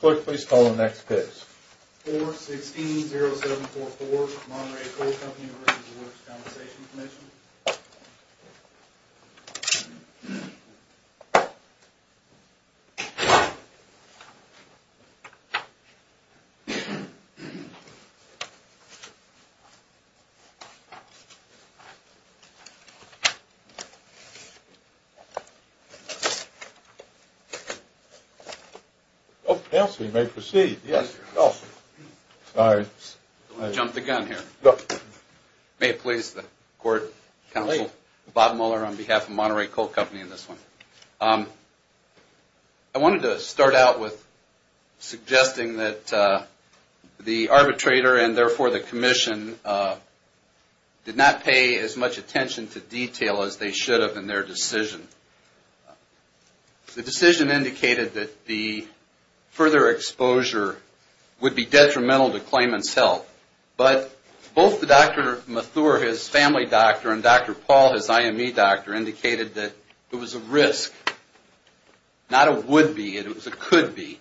Clerk, please call the next pitch. 4-16-0744 Monterey Coal Company v. Workers' Compensation Comm'n May it please the Court, Counsel Bob Mueller on behalf of Monterey Coal Company in this one. I wanted to start out with suggesting that the arbitrator and therefore the Commission did not pay as much attention to detail as they should have in their decision. The decision indicated that the further exposure would be detrimental to claimant's health. But both Dr. Mathur, his family doctor, and Dr. Paul, his IME doctor, indicated that it was a risk. Not a would be, it was a could be.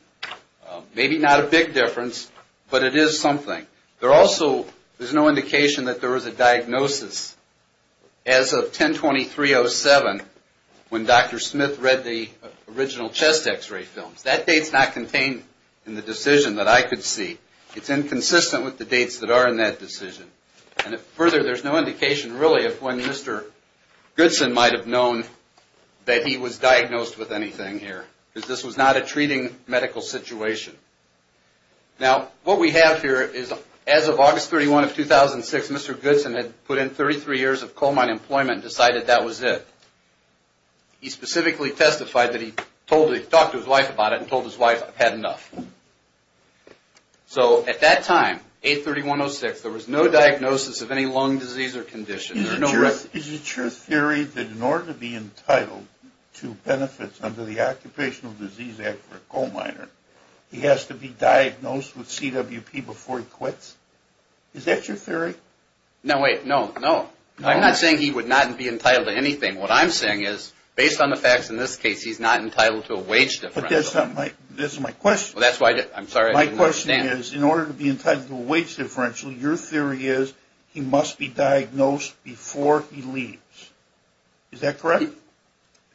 Maybe not a big difference, but it is something. There also is no indication that there was a diagnosis as of 10-23-07 when Dr. Smith read the original chest x-ray films. That date is not contained in the decision that I could see. It is inconsistent with the dates that are in that decision. Further, there is no indication really of when Mr. Goodson might have known that he was diagnosed with anything here. This was not a treating medical situation. Now, what we have here is as of August 31, 2006, Mr. Goodson had put in 33 years of coal mine employment and decided that was it. He specifically testified that he talked to his wife about it and told his wife, I've had enough. So at that time, 8-31-06, there was no diagnosis of any lung disease or condition. Is it your theory that in order to be entitled to benefits under the Occupational Disease Act for a coal miner, he has to be diagnosed with CWP before he quits? Is that your theory? No, wait, no, no. I'm not saying he would not be entitled to anything. What I'm saying is, based on the facts in this case, he's not entitled to a wage differential. But that's not my, that's my question. Well, that's why, I'm sorry, I didn't understand. My question is, in order to be entitled to a wage differential, your theory is he must be diagnosed before he leaves. Is that correct?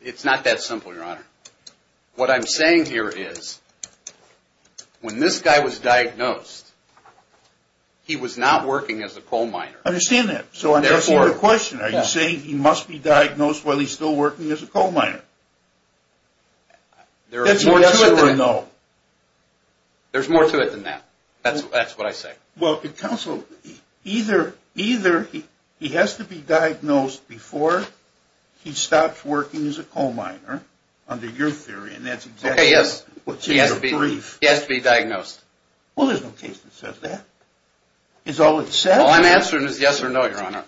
It's not that simple, Your Honor. What I'm saying here is, when this guy was diagnosed, he was not working as a coal miner. I understand that. So I'm asking you a question. Are you saying he must be diagnosed while he's still working as a coal miner? That's a yes or a no. There's more to it than that. That's what I say. Well, Counsel, either he has to be diagnosed before he stops working as a coal miner, under your theory, and that's exactly what's in your brief. Okay, yes. He has to be diagnosed. Well, there's no case that says that. Is all it says? All I'm answering is yes or no, Your Honor.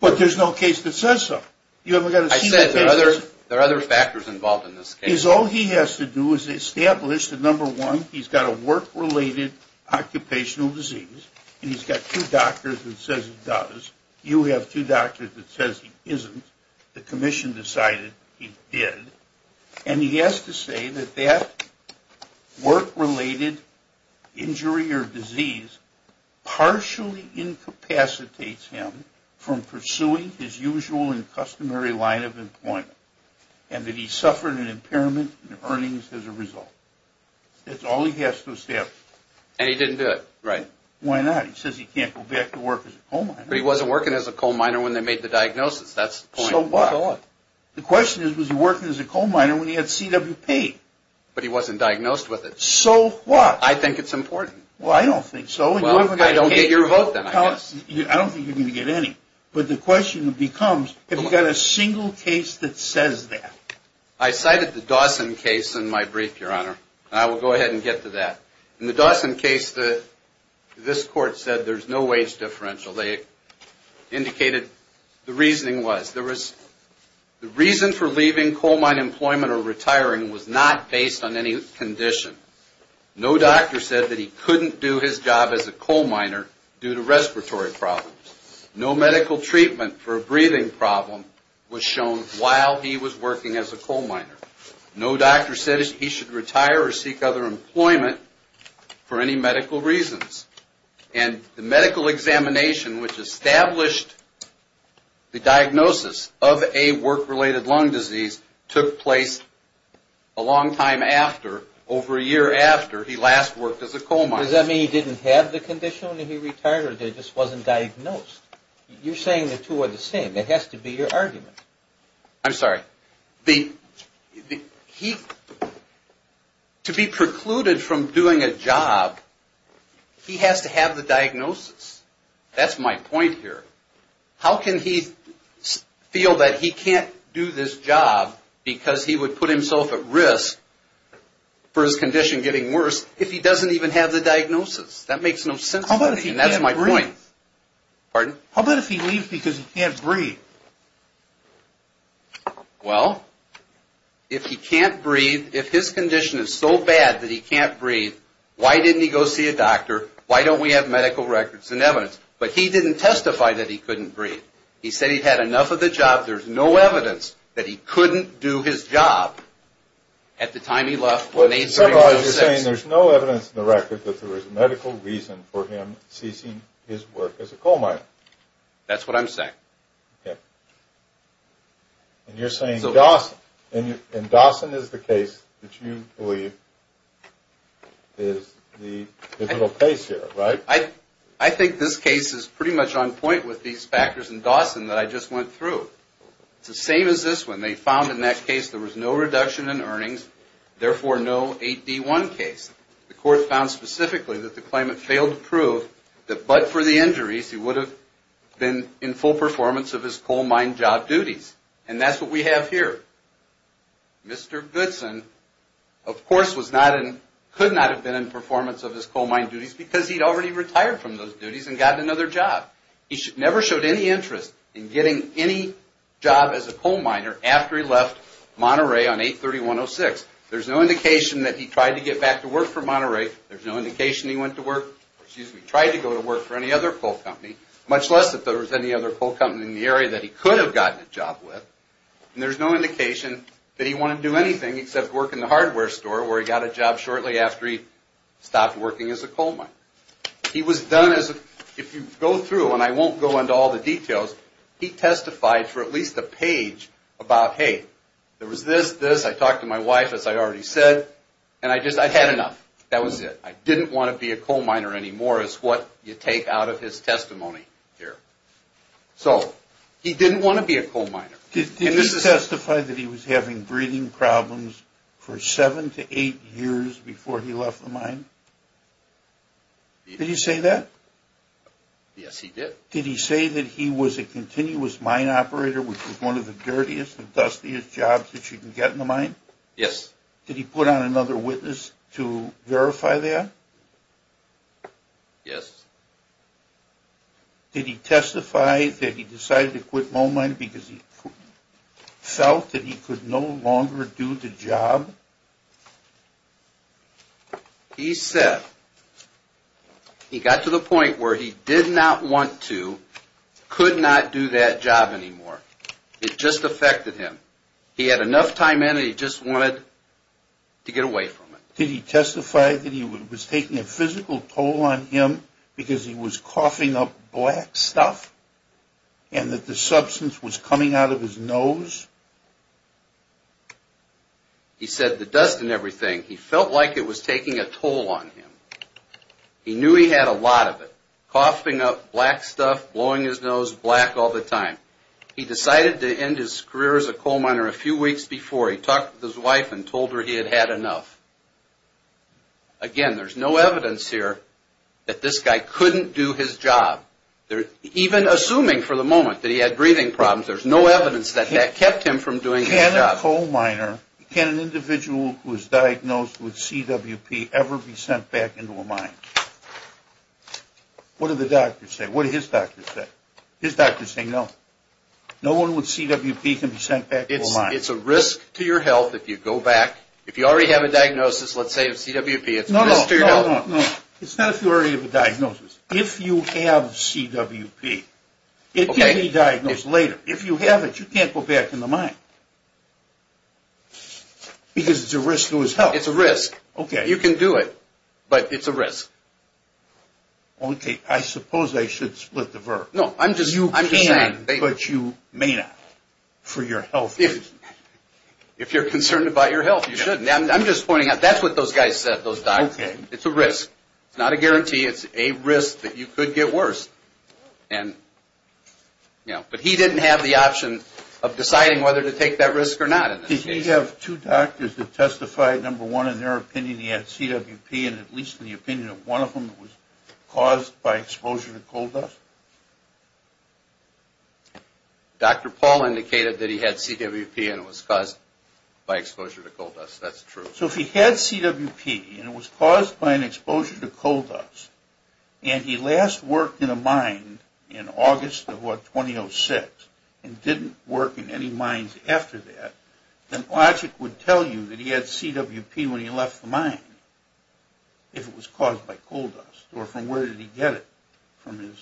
But there's no case that says so. You haven't got a single case that says so. There are other factors involved in this case. All he has to do is establish that, number one, he's got a work-related occupational disease, and he's got two doctors that says he does. You have two doctors that says he isn't. The commission decided he did. And he has to say that that work-related injury or disease partially incapacitates him from pursuing his usual and customary line of employment, and that he suffered an impairment in earnings as a result. That's all he has to establish. And he didn't do it. Right. Why not? He says he can't go back to work as a coal miner. But he wasn't working as a coal miner when they made the diagnosis. That's the point. So what? The question is, was he working as a coal miner when he had CWP? But he wasn't diagnosed with it. So what? I think it's important. Well, I don't think so. Well, I don't get your vote then, I guess. I don't think you're going to get any. But the question becomes, have you got a single case that says that? I cited the Dawson case in my brief, Your Honor, and I will go ahead and get to that. In the Dawson case, this court said there's no age differential. They indicated the reasoning was, the reason for leaving coal mine employment or retiring was not based on any condition. No doctor said that he couldn't do his job as a coal miner due to respiratory problems. No medical treatment for a breathing problem was shown while he was working as a coal miner. No doctor said he should retire or seek other employment for any medical reasons. And the medical examination which established the diagnosis of a work-related lung disease took place a long time after, over a year after he last worked as a coal miner. Does that mean he didn't have the condition when he retired or he just wasn't diagnosed? You're saying the two are the same. It has to be your argument. I'm sorry. To be precluded from doing a job, he has to have the diagnosis. That's my point here. How can he feel that he can't do this job because he would put himself at risk for his condition getting worse if he doesn't even have the diagnosis? That makes no sense to me, and that's my point. How about if he can't breathe? Pardon? Well, if he can't breathe, if his condition is so bad that he can't breathe, why didn't he go see a doctor? Why don't we have medical records and evidence? But he didn't testify that he couldn't breathe. He said he'd had enough of the job. There's no evidence that he couldn't do his job at the time he left when he was 36. So you're saying there's no evidence in the record that there was medical reason for him ceasing his work as a coal miner. That's what I'm saying. Okay. And you're saying Dawson. And Dawson is the case that you believe is the pivotal case here, right? I think this case is pretty much on point with these factors in Dawson that I just went through. It's the same as this one. They found in that case there was no reduction in earnings, therefore no 8D1 case. The court found specifically that the claimant failed to prove that but for the injuries, he would have been in full performance of his coal mine job duties. And that's what we have here. Mr. Goodson, of course, could not have been in performance of his coal mine duties because he'd already retired from those duties and gotten another job. He never showed any interest in getting any job as a coal miner after he left Monterey on 831-06. There's no indication that he tried to get back to work for Monterey. There's no indication he tried to go to work for any other coal company, much less if there was any other coal company in the area that he could have gotten a job with. And there's no indication that he wanted to do anything except work in the hardware store where he got a job shortly after he stopped working as a coal miner. If you go through, and I won't go into all the details, he testified for at least a page about, hey, there was this, this. I talked to my wife, as I already said, and I just, I had enough. That was it. I didn't want to be a coal miner anymore is what you take out of his testimony here. So he didn't want to be a coal miner. Did he testify that he was having breathing problems for seven to eight years before he left the mine? Did he say that? Yes, he did. Did he say that he was a continuous mine operator, which was one of the dirtiest and dustiest jobs that you can get in the mine? Yes. Did he put on another witness to verify that? Yes. Did he testify that he decided to quit coal mining because he felt that he could no longer do the job? No. He said he got to the point where he did not want to, could not do that job anymore. It just affected him. He had enough time in and he just wanted to get away from it. Did he testify that he was taking a physical toll on him because he was coughing up black stuff and that the substance was coming out of his nose? He said the dust and everything. He felt like it was taking a toll on him. He knew he had a lot of it, coughing up black stuff, blowing his nose black all the time. He decided to end his career as a coal miner a few weeks before. He talked to his wife and told her he had had enough. Again, there's no evidence here that this guy couldn't do his job. Even assuming for the moment that he had breathing problems, there's no evidence that that kept him from doing his job. Can a coal miner, can an individual who is diagnosed with CWP ever be sent back into a mine? What do the doctors say? What do his doctors say? His doctors say no. No one with CWP can be sent back to a mine. It's a risk to your health if you go back. If you already have a diagnosis, let's say of CWP, it's a risk to your health. No, no, no, no. It's not if you already have a diagnosis. If you have CWP, it can be diagnosed later. If you have it, you can't go back in the mine because it's a risk to his health. It's a risk. Okay. You can do it, but it's a risk. Okay. I suppose I should split the verb. No, I'm just saying. You can, but you may not for your health. If you're concerned about your health, you shouldn't. I'm just pointing out that's what those guys said, those doctors. It's a risk. It's not a guarantee. It's a risk that you could get worse. But he didn't have the option of deciding whether to take that risk or not. Did he have two doctors that testified, number one, in their opinion he had CWP, and at least in the opinion of one of them, it was caused by exposure to coal dust? Dr. Paul indicated that he had CWP and it was caused by exposure to coal dust. That's true. So if he had CWP and it was caused by an exposure to coal dust and he last worked in a mine in August of what, 2006, and didn't work in any mines after that, then logic would tell you that he had CWP when he left the mine if it was caused by coal dust. Or from where did he get it? From his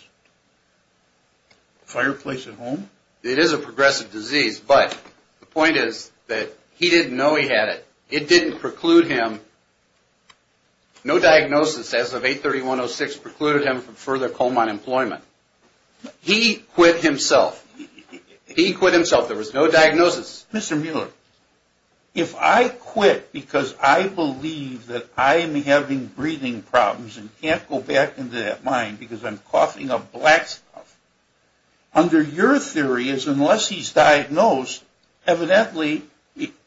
fireplace at home? It is a progressive disease, but the point is that he didn't know he had it. It didn't preclude him. No diagnosis as of 8-31-06 precluded him from further coal unemployment. He quit himself. He quit himself. There was no diagnosis. Mr. Mueller, if I quit because I believe that I am having breathing problems and can't go back into that mine because I'm coughing up black stuff, under your theory is unless he's diagnosed, evidently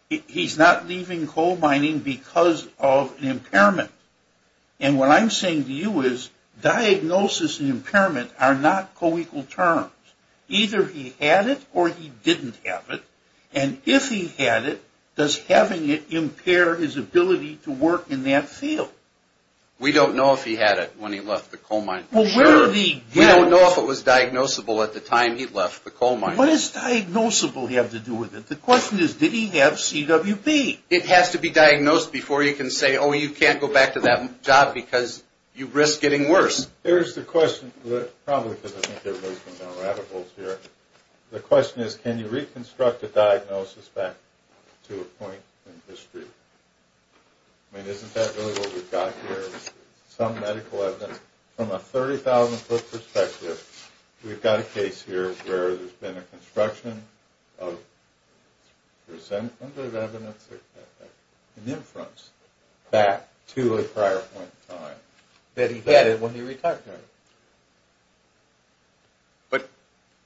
he's not leaving coal mining because of an impairment. And what I'm saying to you is diagnosis and impairment are not coequal terms. Either he had it or he didn't have it. And if he had it, does having it impair his ability to work in that field? We don't know if he had it when he left the coal mine. Well, where did he get it? We don't know if it was diagnosable at the time he left the coal mine. What does diagnosable have to do with it? The question is did he have CWB? It has to be diagnosed before you can say, oh, you can't go back to that job because you risk getting worse. Here's the question, probably because I think everybody's going down rabbit holes here. The question is can you reconstruct a diagnosis back to a point in history? I mean, isn't that really what we've got here? Some medical evidence from a 30,000-foot perspective. We've got a case here where there's been a construction of presumptive evidence of an inference back to a prior point in time. That he had it when he retired. But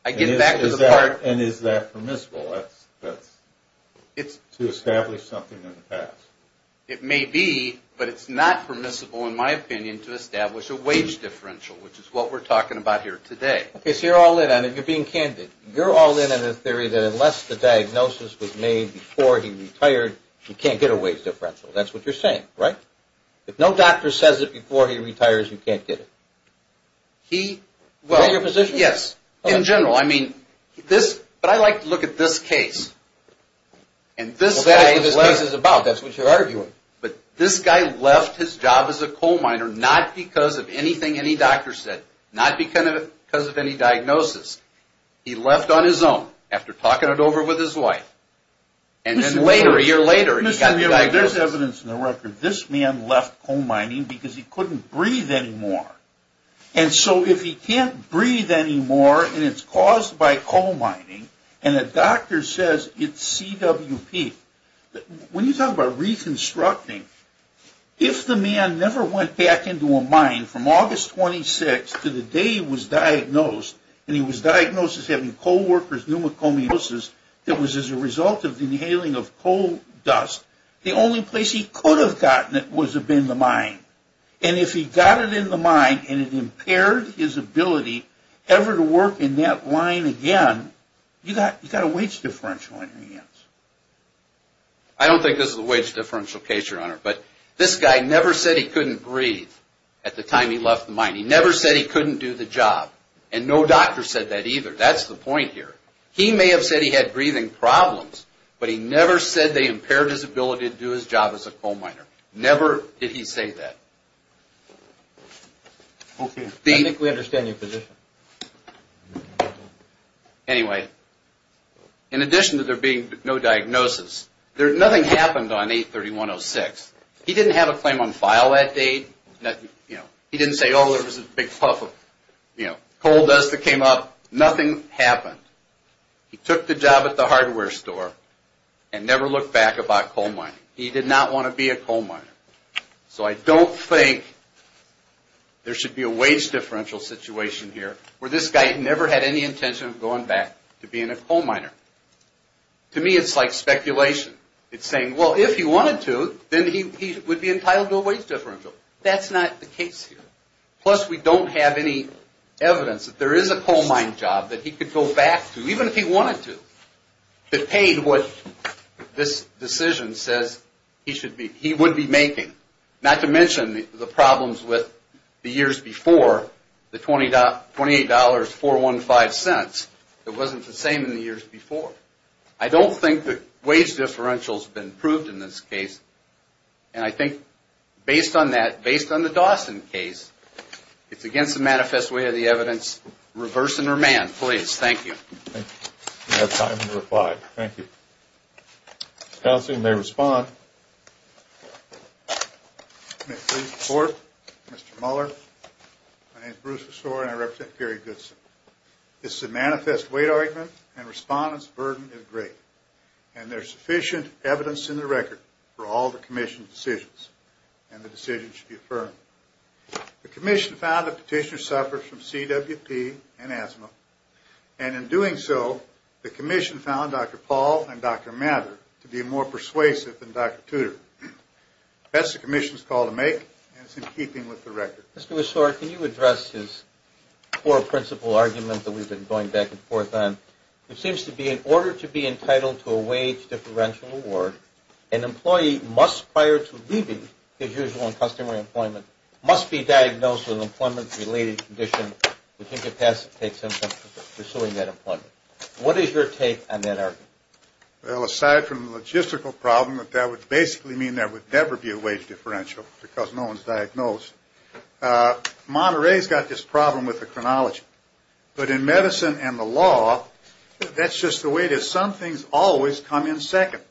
I get back to the part. And is that permissible? To establish something in the past. It may be, but it's not permissible, in my opinion, to establish a wage differential, which is what we're talking about here today. Okay, so you're all in on it. You're being candid. You're all in on the theory that unless the diagnosis was made before he retired, you can't get a wage differential. That's what you're saying, right? If no doctor says it before he retires, you can't get it. Is that your position? Yes. In general. But I like to look at this case. Well, that's what this case is about. That's what you're arguing. But this guy left his job as a coal miner not because of anything any doctor said, not because of any diagnosis. He left on his own after talking it over with his wife. And then later, a year later, he got the diagnosis. There's evidence in the record. This man left coal mining because he couldn't breathe anymore. And so if he can't breathe anymore and it's caused by coal mining, and a doctor says it's CWP, when you talk about reconstructing, if the man never went back into a mine from August 26th to the day he was diagnosed, and he was diagnosed as having coal worker's pneumocomiosis that was as a result of inhaling of coal dust, the only place he could have gotten it would have been the mine. And if he got it in the mine and it impaired his ability ever to work in that mine again, you've got a wage differential on your hands. I don't think this is a wage differential case, Your Honor. But this guy never said he couldn't breathe at the time he left the mine. He never said he couldn't do the job. And no doctor said that either. That's the point here. He may have said he had breathing problems, but he never said they impaired his ability to do his job as a coal miner. Never did he say that. Okay. I think we understand your position. Anyway, in addition to there being no diagnosis, nothing happened on 8-3106. He didn't have a claim on file that day. He didn't say, oh, there was a big puff of coal dust that came up. Nothing happened. He took the job at the hardware store and never looked back about coal mining. He did not want to be a coal miner. So I don't think there should be a wage differential situation here where this guy never had any intention of going back to being a coal miner. To me, it's like speculation. It's saying, well, if he wanted to, then he would be entitled to a wage differential. That's not the case here. Plus, we don't have any evidence that there is a coal mine job that he could go back to, even if he wanted to, that paid what this decision says he would be making, not to mention the problems with the years before, the $28.415. It wasn't the same in the years before. I don't think the wage differential has been proved in this case, and I think based on that, based on the Dawson case, it's against the manifest way of the evidence, reverse and remand. Thank you. Thank you. We have time to reply. Thank you. Counselor, you may respond. Mr. Moore, Mr. Muller. My name is Bruce Besore, and I represent Gary Goodson. This is a manifest weight argument, and respondents' burden is great, and there is sufficient evidence in the record for all the commission's decisions, and the decision should be affirmed. The commission found the petitioner suffered from CWP and asthma, and in doing so, the commission found Dr. Paul and Dr. Mather to be more persuasive than Dr. Tudor. That's the commission's call to make, and it's in keeping with the record. Mr. Besore, can you address his core principle argument that we've been going back and forth on? It seems to be in order to be entitled to a wage differential award, an employee must, prior to leaving his usual and customary employment, must be diagnosed with an employment-related condition which incapacitates him from pursuing that employment. What is your take on that argument? Well, aside from the logistical problem, that would basically mean there would never be a wage differential because no one's diagnosed. Monterey's got this problem with the chronology, but in medicine and the law, that's just the way it is. Some things always come in second.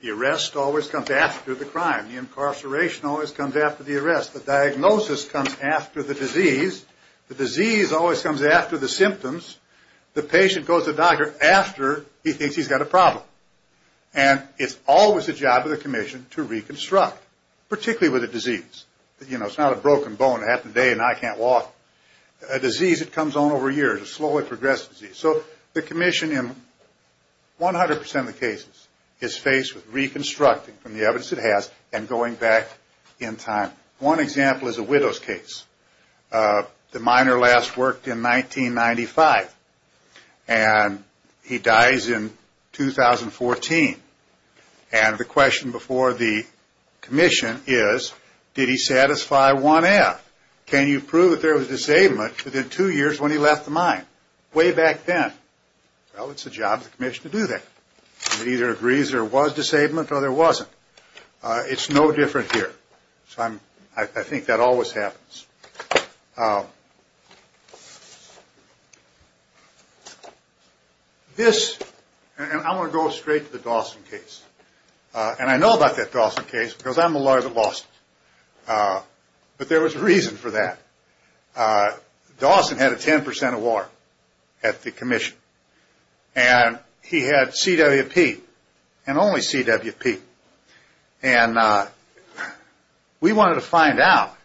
The arrest always comes after the crime. The incarceration always comes after the arrest. The diagnosis comes after the disease. The disease always comes after the symptoms. The patient goes to the doctor after he thinks he's got a problem, and it's always the job of the commission to reconstruct, particularly with a disease. You know, it's not a broken bone that happened today and I can't walk. A disease that comes on over years, a slowly-progressed disease. So the commission, in 100% of the cases, is faced with reconstructing from the evidence it has and going back in time. One example is a widow's case. The minor last worked in 1995, and he dies in 2014. And the question before the commission is, did he satisfy 1F? Can you prove that there was disablement within two years when he left the mine? Way back then. Well, it's the job of the commission to do that. It either agrees there was disablement or there wasn't. It's no different here. So I think that always happens. This, and I want to go straight to the Dawson case. But there was a reason for that. Dawson had a 10% award at the commission. And he had CWP and only CWP. And we wanted to find out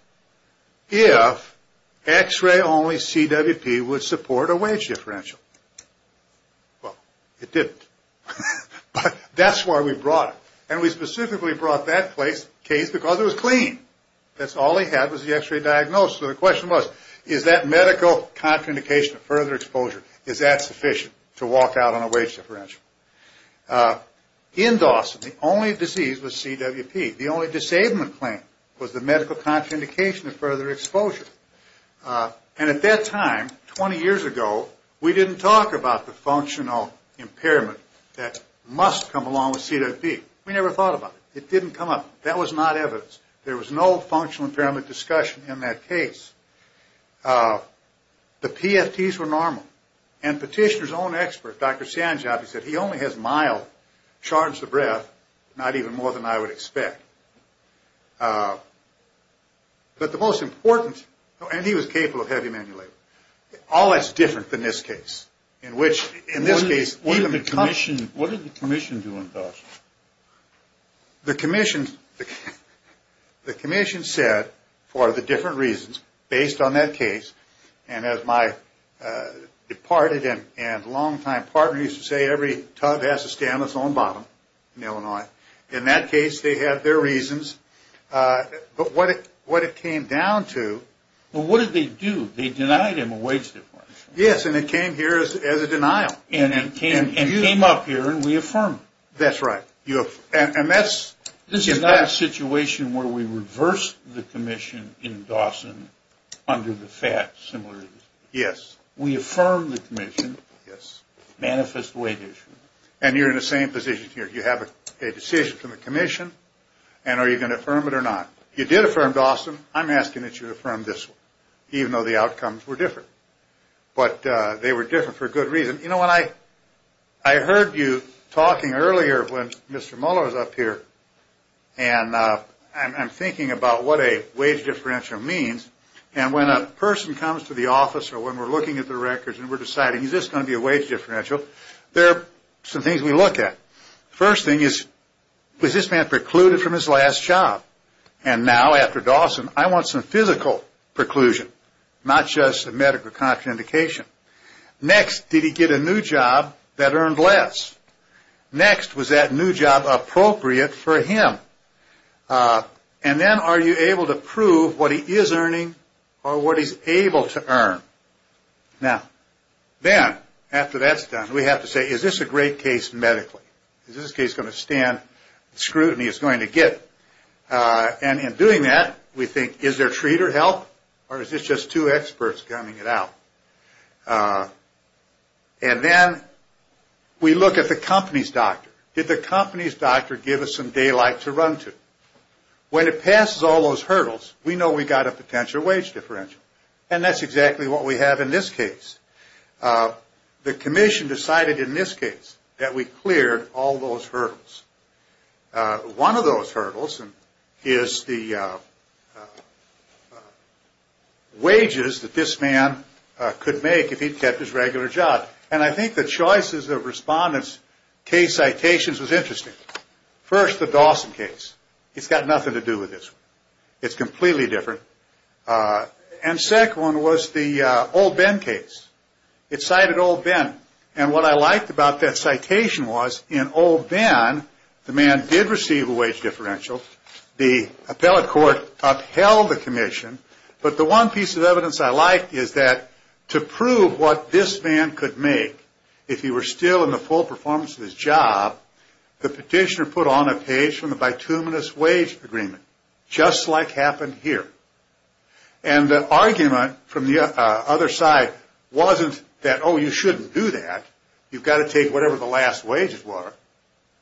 if X-ray only CWP would support a wage differential. Well, it didn't. But that's why we brought it. And we specifically brought that case because it was clean. That's all he had was the X-ray diagnosis. So the question was, is that medical contraindication of further exposure, is that sufficient to walk out on a wage differential? In Dawson, the only disease was CWP. The only disablement claim was the medical contraindication of further exposure. And at that time, 20 years ago, we didn't talk about the functional impairment that must come along with CWP. We never thought about it. It didn't come up. That was not evidence. There was no functional impairment discussion in that case. The PFTs were normal. And Petitioner's own expert, Dr. Sanjabi, said he only has mild shards of breath, not even more than I would expect. But the most important, and he was capable of heavy manual labor. All that's different than this case. What did the commission do in Dawson? The commission said, for the different reasons, based on that case, and as my departed and longtime partner used to say, every tub has to stay on its own bottom in Illinois. In that case, they had their reasons. But what it came down to. But what did they do? They denied him a wage differential. Yes, and it came here as a denial. And it came up here and we affirmed it. That's right. And that's... This is not a situation where we reversed the commission in Dawson under the facts. Yes. We affirmed the commission. Yes. Manifest wage issue. And you're in the same position here. You have a decision from the commission, and are you going to affirm it or not? You did affirm Dawson. I'm asking that you affirm this one, even though the outcomes were different. But they were different for a good reason. You know, when I heard you talking earlier when Mr. Muller was up here, and I'm thinking about what a wage differential means, and when a person comes to the office or when we're looking at the records and we're deciding is this going to be a wage differential, there are some things we look at. First thing is, was this man precluded from his last job? And now, after Dawson, I want some physical preclusion, not just a medical contraindication. Next, did he get a new job that earned less? Next, was that new job appropriate for him? And then, are you able to prove what he is earning or what he's able to earn? Now, then, after that's done, we have to say, is this a great case medically? Is this case going to stand the scrutiny it's going to get? And in doing that, we think, is there treat or help, or is this just two experts coming it out? And then we look at the company's doctor. Did the company's doctor give us some daylight to run to? When it passes all those hurdles, we know we've got a potential wage differential. And that's exactly what we have in this case. The commission decided in this case that we cleared all those hurdles. One of those hurdles is the wages that this man could make if he'd kept his regular job. And I think the choices of respondents' case citations was interesting. First, the Dawson case. It's got nothing to do with this one. It's completely different. And second one was the Old Ben case. It cited Old Ben. And what I liked about that citation was, in Old Ben, the man did receive a wage differential. The appellate court upheld the commission. But the one piece of evidence I liked is that to prove what this man could make, if he were still in the full performance of his job, the petitioner put on a page from the bituminous wage agreement, just like happened here. And the argument from the other side wasn't that, oh, you shouldn't do that. You've got to take whatever the last wages were.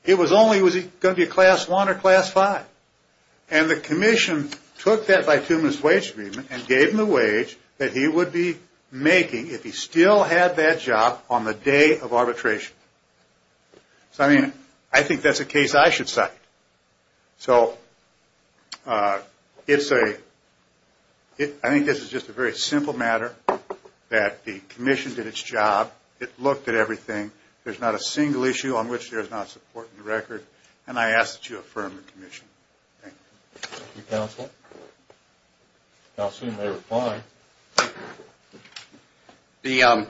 It was only, was he going to be a Class I or Class V? And the commission took that bituminous wage agreement and gave him the wage that he would be making if he still had that job on the day of arbitration. So, I mean, I think that's a case I should cite. So, it's a, I think this is just a very simple matter that the commission did its job. It looked at everything. There's not a single issue on which there is not support in the record. And I ask that you affirm the commission. Thank you. Thank you, counsel. Counsel, you may reply. The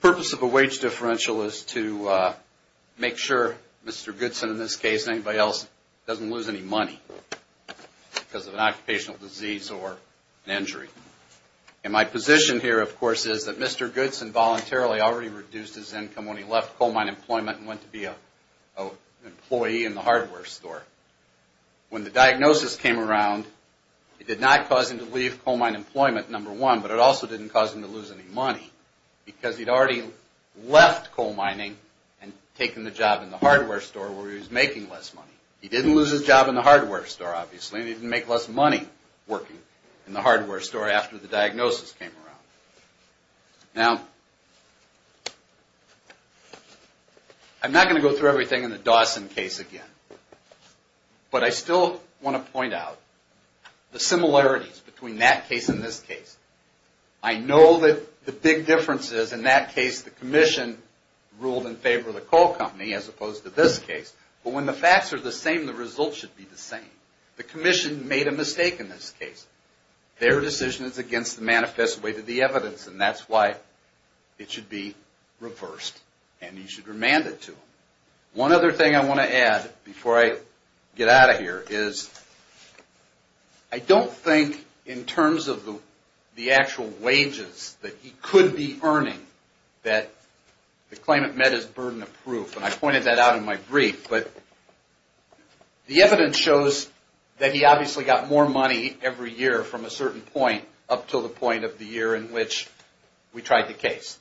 purpose of a wage differential is to make sure Mr. Goodson, in this case, and anybody else doesn't lose any money because of an occupational disease or an injury. And my position here, of course, is that Mr. Goodson voluntarily already reduced his income when he left coal mine employment and went to be an employee in the hardware store. When the diagnosis came around, it did not cause him to leave coal mine employment, number one, but it also didn't cause him to lose any money because he'd already left coal mining and taken the job in the hardware store where he was making less money. He didn't lose his job in the hardware store, obviously, and he didn't make less money working in the hardware store after the diagnosis came around. Now, I'm not going to go through everything in the Dawson case again, but I still want to point out the similarities between that case and this case. I know that the big difference is, in that case, the commission ruled in favor of the coal company as opposed to this case, but when the facts are the same, the results should be the same. The commission made a mistake in this case. Their decision is against the manifest way to the evidence, and that's why it should be reversed and you should remand it to them. One other thing I want to add before I get out of here is I don't think, in terms of the actual wages that he could be earning, that the claimant met his burden of proof, and I pointed that out in my brief, but the evidence shows that he obviously got more money every year from a certain point up to the point of the year in which we tried the case,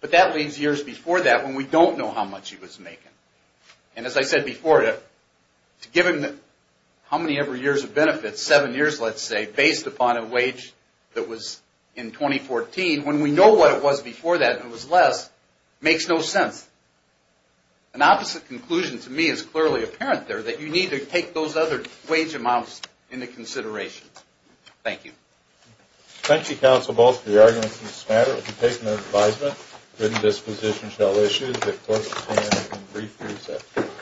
but that leaves years before that when we don't know how much he was making, and as I said before, to give him how many ever years of benefits, seven years, let's say, based upon a wage that was in 2014, when we know what it was before that and it was less, makes no sense. An opposite conclusion to me is clearly apparent there, that you need to take those other wage amounts into consideration. Thank you. Thank you, counsel, both for your arguments in this matter. If you take no advisement, written disposition shall issue. If clerks can, we can briefly accept.